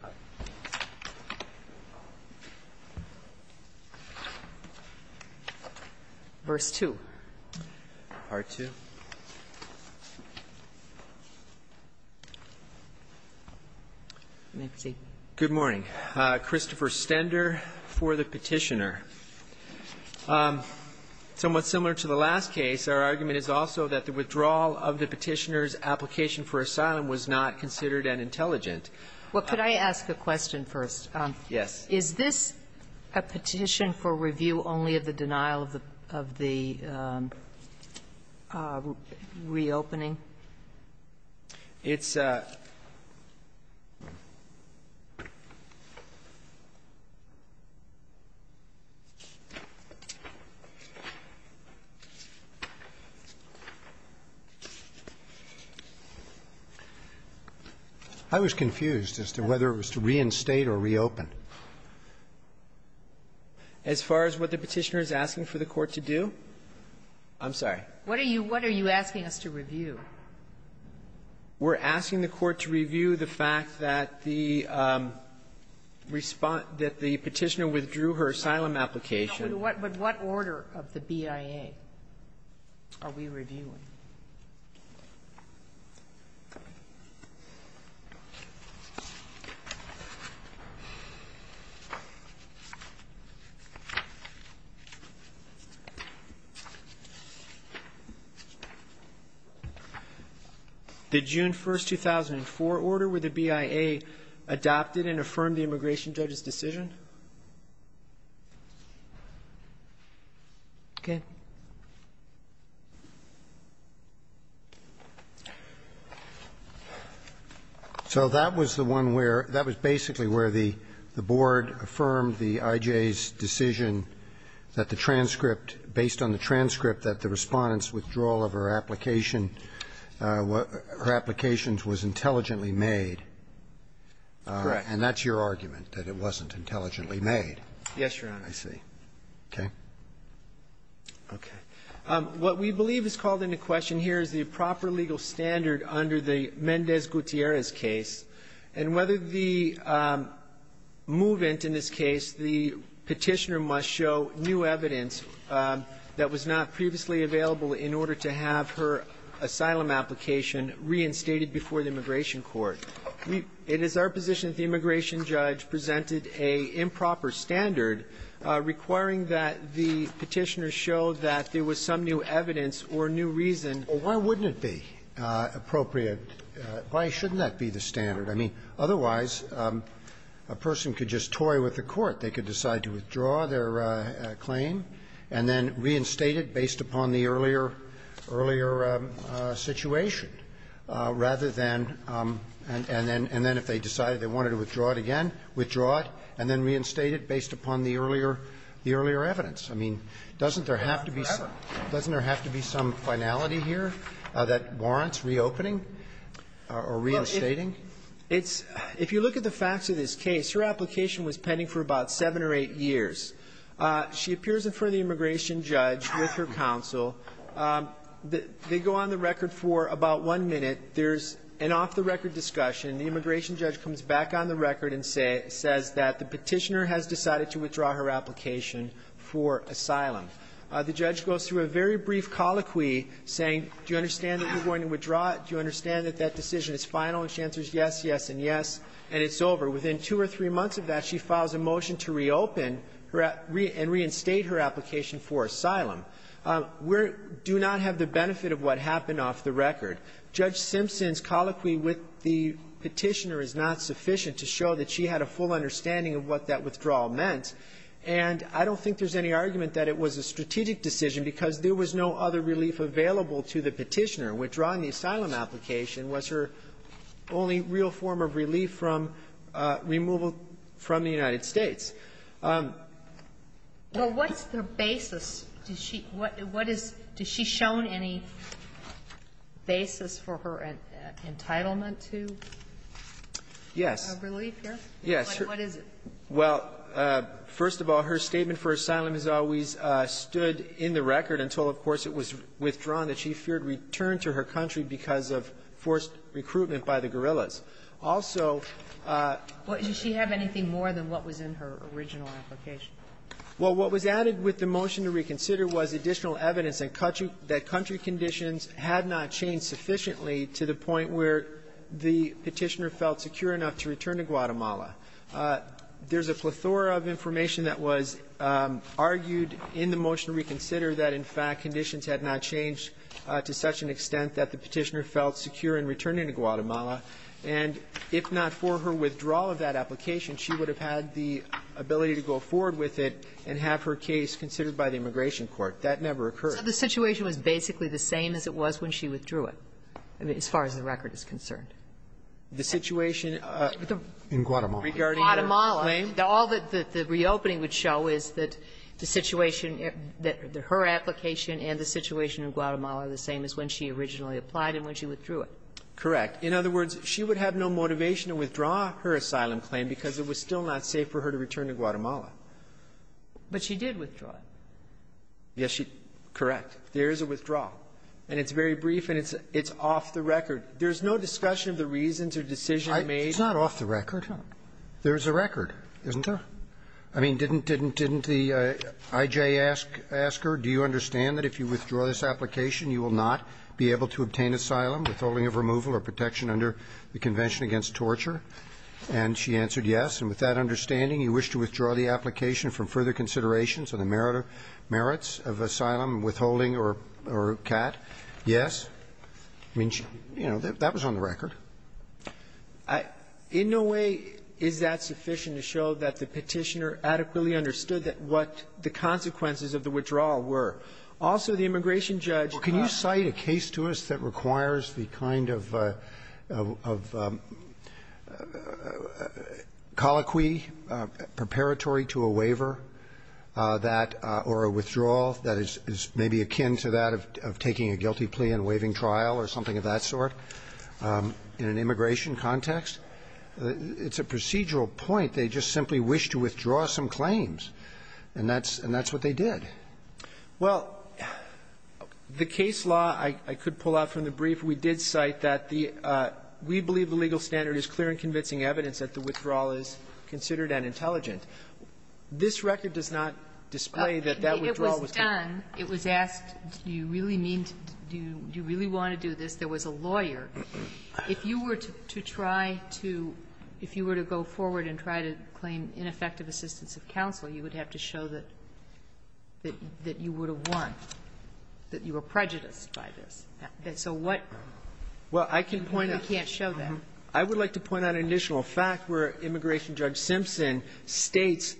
Good morning. Christopher Stender for the petitioner. Somewhat similar to the last case, our argument is also that the withdrawal of the petitioner's application for asylum was not considered an intelligent. Sotomayor Well, could I ask a question first? Bursch Yes. Sotomayor Is this a petition for review only of the denial of the reopening? Bursch It's a – I was confused as to whether it was to reinstate or reopen. As far as what the petitioner is asking for the Court to do? I'm sorry. Sotomayor What are you – what are you asking us to review? Bursch We're asking the Court to review the fact that the respond – that the petitioner withdrew her asylum application. Sotomayor But what – but what order of the BIA are we reviewing? Bursch The June 1st, 2004, order where the BIA adopted and affirmed the immigration judge's decision. Sotomayor Okay. Roberts So that was the one where – that was basically where the Board affirmed the IJA's decision that the transcript – based on the transcript that the Respondent's withdrawal of her application – her application was intelligently made. Bursch Correct. Roberts And that's your argument, that it wasn't intelligently made? Bursch Yes, Your Honor. Roberts I see. Okay. Bursch Okay. What we believe is called into question here is the proper legal standard under the petitioner must show new evidence that was not previously available in order to have her asylum application reinstated before the immigration court. We – it is our position that the immigration judge presented a improper standard requiring that the petitioner show that there was some new evidence or new reason to – Roberts Well, why wouldn't it be appropriate? Why shouldn't that be the standard? I mean, otherwise, a person could just toy with the court. They could decide to withdraw their claim and then reinstate it based upon the earlier – earlier situation, rather than – and then if they decided they wanted to withdraw it again, withdraw it and then reinstate it based upon the earlier – the earlier evidence. I mean, doesn't there have to be some finality here that warrants reopening or reinstating? Bursch It's – if you look at the facts of this case, her application was pending for about seven or eight years. She appears in front of the immigration judge with her counsel. They go on the record for about one minute. There's an off-the-record discussion. The immigration judge comes back on the record and says that the petitioner has decided to withdraw her application for asylum. The judge goes through a very brief colloquy saying, do you understand that you're going to withdraw it? Do you understand that that decision is final? And she answers yes, yes, and yes, and it's over. Within two or three months of that, she files a motion to reopen her – and reinstate her application for asylum. We're – do not have the benefit of what happened off the record. Judge Simpson's colloquy with the petitioner is not sufficient to show that she had a full understanding of what that withdrawal meant, and I don't think there's any argument that it was a strategic decision because there was no other relief available to the petitioner. Withdrawing the asylum application was her only real form of relief from removal from the United States. Sotomayor, what's the basis? Does she – what is – does she show any basis for her entitlement to? Yes. Relief, yes? Yes. What is it? Well, first of all, her statement for asylum has always stood in the record until, of course, it was withdrawn, that she feared return to her country because of forced recruitment by the guerrillas. Also… Well, does she have anything more than what was in her original application? Well, what was added with the motion to reconsider was additional evidence and country – that country conditions had not changed sufficiently to the point where the petitioner felt secure enough to return to Guatemala. There's a plethora of information that was argued in the motion to reconsider that, in fact, conditions had not changed to such an extent that the petitioner felt secure in returning to Guatemala. And if not for her withdrawal of that application, she would have had the ability to go forward with it and have her case considered by the Immigration Court. That never occurred. So the situation was basically the same as it was when she withdrew it, as far as the record is concerned? The situation… In Guatemala. In Guatemala. All that the reopening would show is that the situation – that her application and the situation in Guatemala are the same as when she originally applied and when she withdrew it. Correct. In other words, she would have no motivation to withdraw her asylum claim because it was still not safe for her to return to Guatemala. But she did withdraw it. Yes, she – correct. There is a withdrawal. And it's very brief, and it's off the record. There's no discussion of the reasons or decision made. It's not off the record. There's a record, isn't there? I mean, didn't the IJ ask her, do you understand that if you withdraw this application, you will not be able to obtain asylum, withholding of removal or protection under the Convention Against Torture? And she answered yes. And with that understanding, you wish to withdraw the application from further considerations on the merits of asylum and withholding or CAT? Yes? I mean, you know, that was on the record. In no way is that sufficient to show that the Petitioner adequately understood that what the consequences of the withdrawal were. Also, the immigration judge – Well, can you cite a case to us that requires the kind of – of colloquy, preparatory to a waiver that – or a withdrawal that is maybe akin to that of taking a guilty plea in a waiving trial or something of that sort? In an immigration context? It's a procedural point. They just simply wish to withdraw some claims. And that's – and that's what they did. Well, the case law, I could pull out from the brief. We did cite that the – we believe the legal standard is clear and convincing evidence that the withdrawal is considered unintelligent. This record does not display that that withdrawal was done. It was asked, do you really mean to – do you really want to do this? There was a lawyer. If you were to try to – if you were to go forward and try to claim ineffective assistance of counsel, you would have to show that – that you would have won, that you were prejudiced by this. So what – Well, I can point out – You can't show that. I would like to point out an additional fact where Immigration Judge Simpson states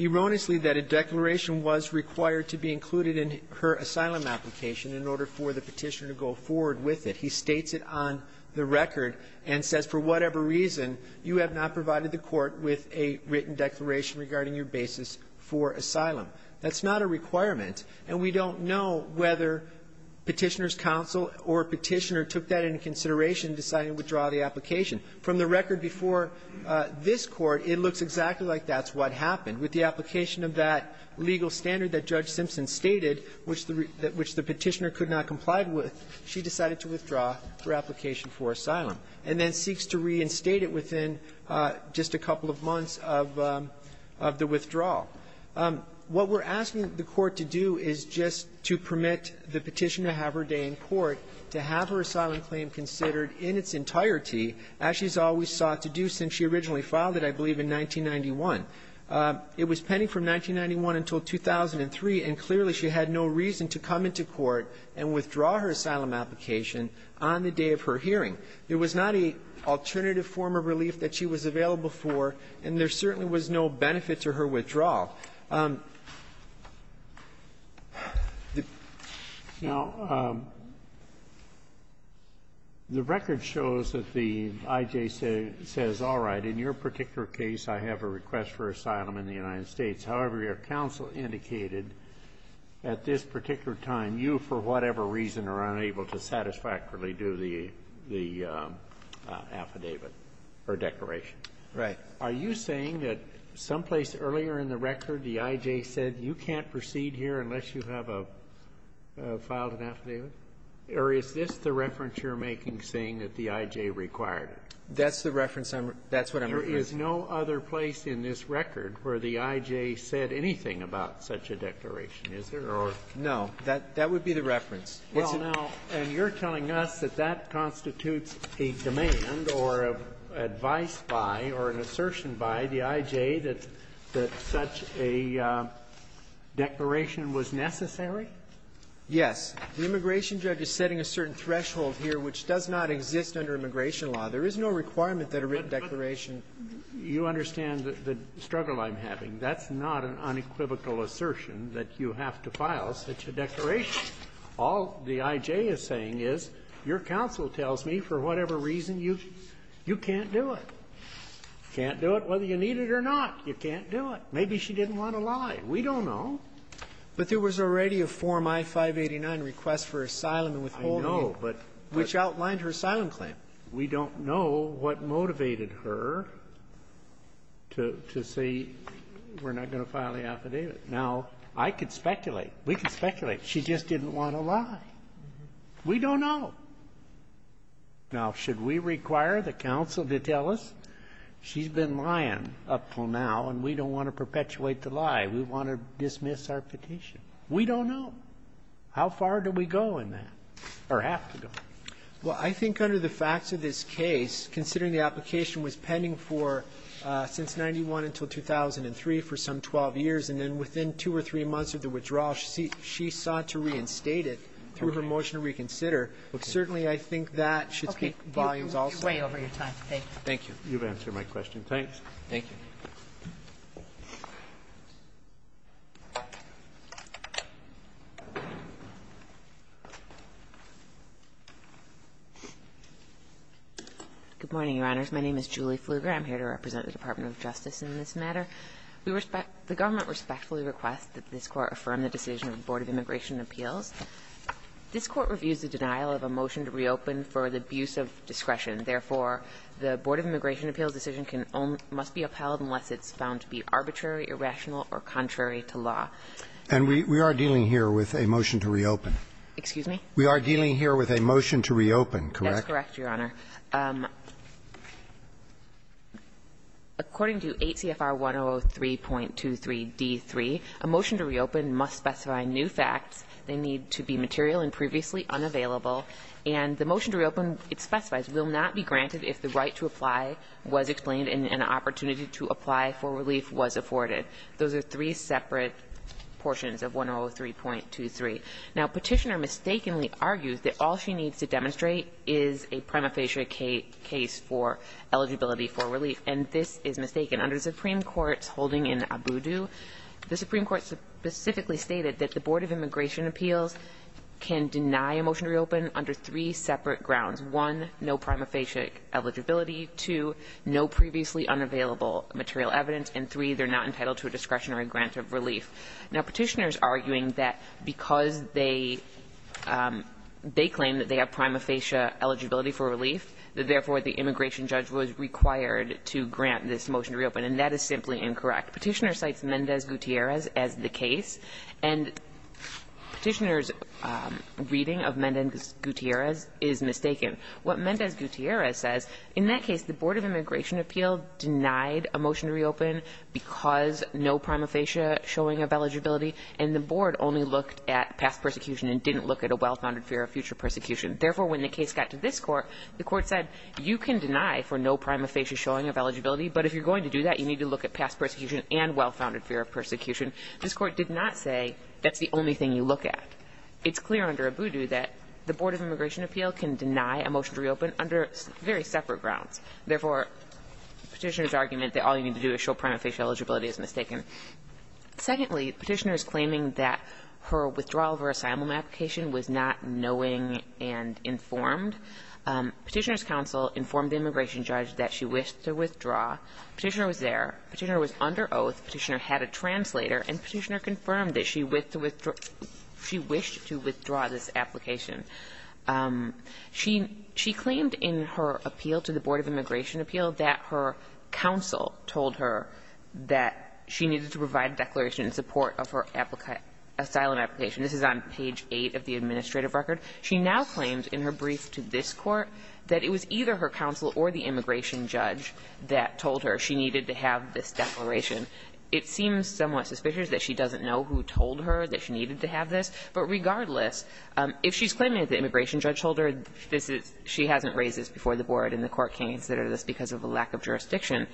erroneously that a declaration was required to be included in her asylum application in order for the Petitioner to go forward with it. He states it on the record and says, for whatever reason, you have not provided the Court with a written declaration regarding your basis for asylum. That's not a requirement, and we don't know whether Petitioner's counsel or Petitioner took that into consideration in deciding to withdraw the application. From the record before this Court, it looks exactly like that's what happened. With the application of that legal standard that Judge Simpson stated, which the Petitioner could not comply with, she decided to withdraw her application for asylum, and then seeks to reinstate it within just a couple of months of – of the withdrawal. What we're asking the Court to do is just to permit the Petitioner to have her day in court, to have her asylum claim considered in its entirety, as she's always sought to do since she originally filed it, I believe, in 1991. It was pending from 1991 until 2003, and clearly, she had no reason to come into court and withdraw her asylum application on the day of her hearing. There was not a alternative form of relief that she was available for, and there certainly was no benefit to her withdrawal. The ---- Roberts, Jr. Now, the record shows that the IJ says, all right, in your particular case, I have a request for asylum in the United States. However, your counsel indicated at this particular time, you, for whatever reason, are unable to satisfactorily do the affidavit or declaration. Right. Are you saying that someplace earlier in the record, the IJ said, you can't proceed here unless you have a – filed an affidavit? Or is this the reference you're making, saying that the IJ required it? That's the reference I'm – that's what I'm referring to. There is no other place in this record where the IJ said anything about such a declaration, is there? Or no. That would be the reference. Well, now, and you're telling us that that constitutes a demand or advice by or an assertion by the IJ that such a declaration was necessary? Yes. The immigration judge is setting a certain threshold here which does not exist under immigration law. There is no requirement that a written declaration – You understand the struggle I'm having. That's not an unequivocal assertion that you have to file such a declaration. All the IJ is saying is, your counsel tells me for whatever reason you can't do it. Can't do it whether you need it or not. You can't do it. Maybe she didn't want to lie. We don't know. But there was already a Form I-589, Request for Asylum and Withholding. I know, but – Which outlined her asylum claim. We don't know what motivated her to say, we're not going to file the affidavit. Now, I could speculate. We could speculate. She just didn't want to lie. We don't know. Now, should we require the counsel to tell us, she's been lying up until now, and we don't want to perpetuate the lie. We want to dismiss our petition. We don't know. How far do we go in that, or have to go? Well, I think under the facts of this case, considering the application was pending for, since 91 until 2003, for some 12 years, and then within two or three months of the withdrawal, she sought to reinstate it through her motion to reconsider. But certainly, I think that should speak volumes also. Okay. You're way over your time. Thank you. Thank you. You've answered my question. Thanks. Thank you. Good morning, Your Honors. My name is Julie Pfluger. I'm here to represent the Department of Justice in this matter. We respect the government respectfully request that this Court affirm the decision of the Board of Immigration Appeals. This Court reviews the denial of a motion to reopen for the abuse of discretion. Therefore, the Board of Immigration Appeals decision must be upheld unless it's found to be arbitrary, irrational, or contrary to law. And we are dealing here with a motion to reopen. Excuse me? We are dealing here with a motion to reopen, correct? That's correct, Your Honor. According to 8 CFR 103.23d3, a motion to reopen must specify new facts. They need to be material and previously unavailable. And the motion to reopen, it specifies, will not be granted if the right to apply was explained and an opportunity to apply for relief was afforded. Those are three separate portions of 103.23. Now, Petitioner mistakenly argues that all she needs to demonstrate is a prima facie case for eligibility for relief. And this is mistaken. Under the Supreme Court's holding in Abudu, the Supreme Court specifically stated that the Board of Immigration Appeals can deny a motion to reopen under three separate grounds. One, no prima facie eligibility. Two, no previously unavailable material evidence. And three, they're not entitled to a discretionary grant of relief. Now, Petitioner's arguing that because they claim that they have prima facie eligibility for relief, that therefore the immigration judge was required to grant this motion to reopen. And that is simply incorrect. Petitioner cites Mendez-Gutierrez as the case. And Petitioner's reading of Mendez-Gutierrez is mistaken. What Mendez-Gutierrez says, in that case, the Board of Immigration Appeal denied a motion to reopen because no prima facie showing of eligibility. And the board only looked at past persecution and didn't look at a well-founded fear of future persecution. Therefore, when the case got to this court, the court said, you can deny for no prima facie showing of eligibility. But if you're going to do that, you need to look at past persecution and well-founded fear of persecution. This court did not say, that's the only thing you look at. It's clear under Abudu that the Board of Immigration Appeal can deny a motion to reopen under very separate grounds. Therefore, Petitioner's argument that all you need to do is show prima facie eligibility is mistaken. Secondly, Petitioner's claiming that her withdrawal of her asylum application was not knowing and informed. Petitioner's counsel informed the immigration judge that she wished to withdraw. Petitioner was there. Petitioner was under oath. Petitioner had a translator. And Petitioner confirmed that she wished to withdraw this application. She claimed in her appeal to the Board of Immigration Appeal that her counsel told her that she needed to provide a declaration in support of her asylum application. This is on page eight of the administrative record. She now claims in her brief to this court that it was either her counsel or the immigration judge that told her she needed to have this declaration. It seems somewhat suspicious that she doesn't know who told her that she needed to have this. But regardless, if she's claiming that the immigration judge told her this is, she hasn't raised this before the board and the court can't consider this because of a lack of jurisdiction.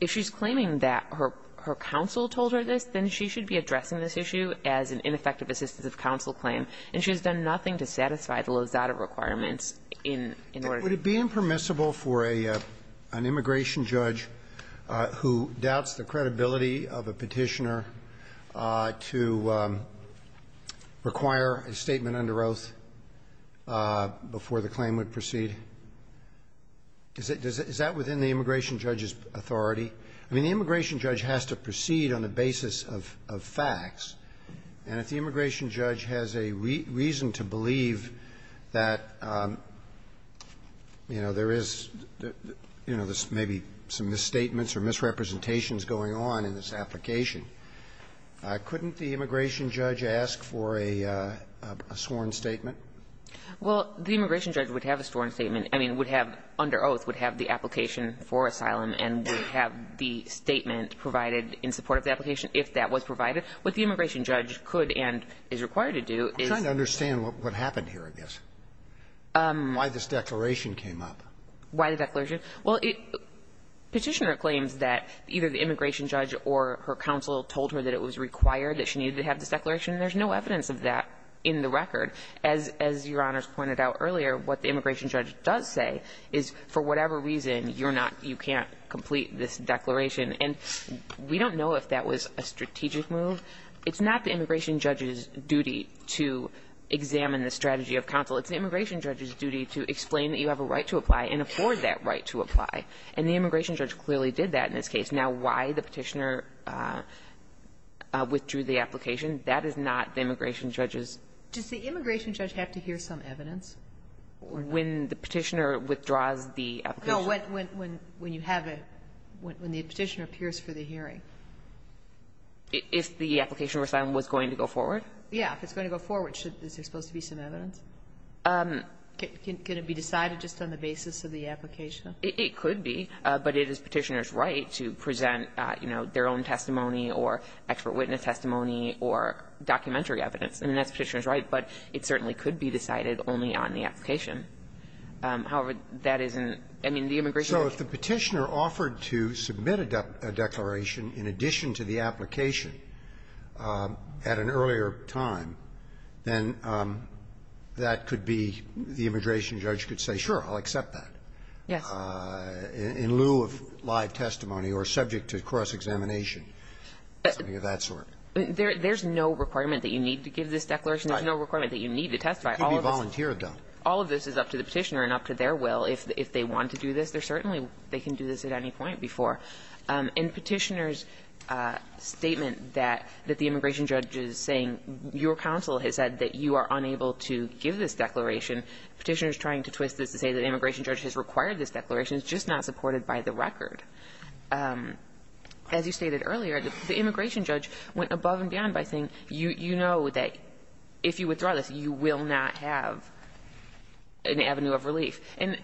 If she's claiming that her counsel told her this, then she should be addressing this issue as an ineffective assistance of counsel claim. And she's done nothing to satisfy the Lozada requirements in order to do that. Roberts. Roberts. Would it be impermissible for an immigration judge who doubts the credibility of a petitioner to require a statement under oath before the claim would proceed? Is that within the immigration judge's authority? I mean, the immigration judge has to proceed on the basis of facts. And if the immigration judge has a reason to believe that, you know, there is, you know, there's maybe some misstatements or misrepresentations going on in this application, couldn't the immigration judge ask for a sworn statement? Well, the immigration judge would have a sworn statement. I mean, would have, under oath, would have the application for asylum and would have the statement provided in support of the application if that was provided. What the immigration judge could and is required to do is to understand what happened here, I guess. Why this declaration came up. Why the declaration? Well, petitioner claims that either the immigration judge or her counsel told her that it was required, that she needed to have this declaration, and there's no evidence of that in the record. As Your Honors pointed out earlier, what the immigration judge does say is for whatever reason, you're not, you can't complete this declaration. And we don't know if that was a strategic move. It's not the immigration judge's duty to examine the strategy of counsel. It's the immigration judge's duty to explain that you have a right to apply and afford that right to apply. And the immigration judge clearly did that in this case. Now, why the petitioner withdrew the application, that is not the immigration judge's. Does the immigration judge have to hear some evidence? When the petitioner withdraws the application? No, when you have a, when the petitioner appears for the hearing. If the application was going to go forward? Yeah. If it's going to go forward, is there supposed to be some evidence? Can it be decided just on the basis of the application? It could be, but it is Petitioner's right to present, you know, their own testimony or expert witness testimony or documentary evidence. I mean, that's Petitioner's right, but it certainly could be decided only on the application. However, that isn't the immigration judge's right. So if the petitioner offered to submit a declaration in addition to the application at an earlier time, then that could be, the immigration judge could say, sure, I'll accept that. Yes. In lieu of live testimony or subject to cross-examination, something of that sort. There's no requirement that you need to give this declaration. There's no requirement that you need to testify. It could be volunteer done. All of this is up to the petitioner and up to their will. If they want to do this, they're certainly, they can do this at any point before. In Petitioner's statement that the immigration judge is saying, your counsel has said that you are unable to give this declaration, Petitioner's trying to twist this to say that the immigration judge has required this declaration. It's just not supported by the record. As you stated earlier, the immigration judge went above and beyond by saying, you know that if you withdraw this, you will not have an avenue of relief. And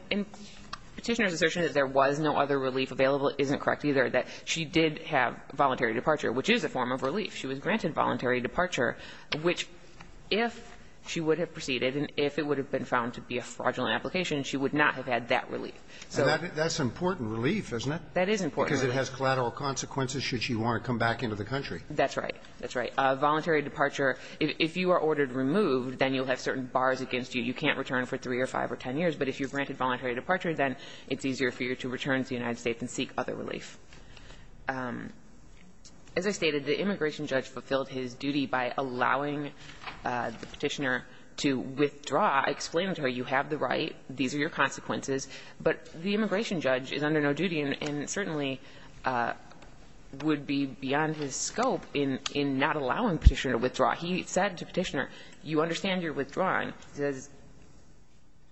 Petitioner's assertion that there was no other relief available isn't correct either, that she did have voluntary departure, which is a form of relief. She was granted voluntary departure, which if she would have proceeded and if it would have been found to be a fraudulent application, she would not have had that relief. So that's important relief, isn't it? That is important relief. Because it has collateral consequences should she want to come back into the country. That's right. That's right. Voluntary departure, if you are ordered removed, then you'll have certain bars against you. You can't return for 3 or 5 or 10 years, but if you're granted voluntary departure, then it's easier for you to return to the United States and seek other relief. As I stated, the immigration judge fulfilled his duty by allowing the Petitioner to withdraw, explaining to her you have the right, these are your consequences, but the immigration judge is under no duty and certainly would be beyond his scope in not allowing Petitioner to withdraw. He said to Petitioner, you understand you're withdrawing. He says,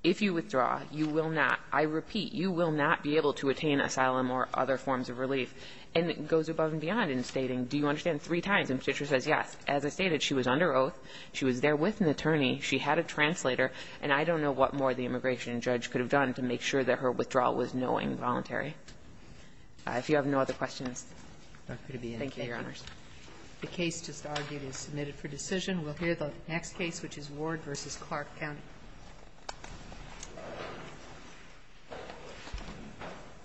if you withdraw, you will not, I repeat, you will not be able to attain asylum or other forms of relief. And it goes above and beyond in stating, do you understand, three times. And Petitioner says, yes. As I stated, she was under oath, she was there with an attorney, she had a translator, and I don't know what more the immigration judge could have done to make sure that her withdrawal was knowing voluntary. If you have no other questions, thank you, Your Honors. The case just argued is submitted for decision. We'll hear the next case, which is Ward v. Clark County.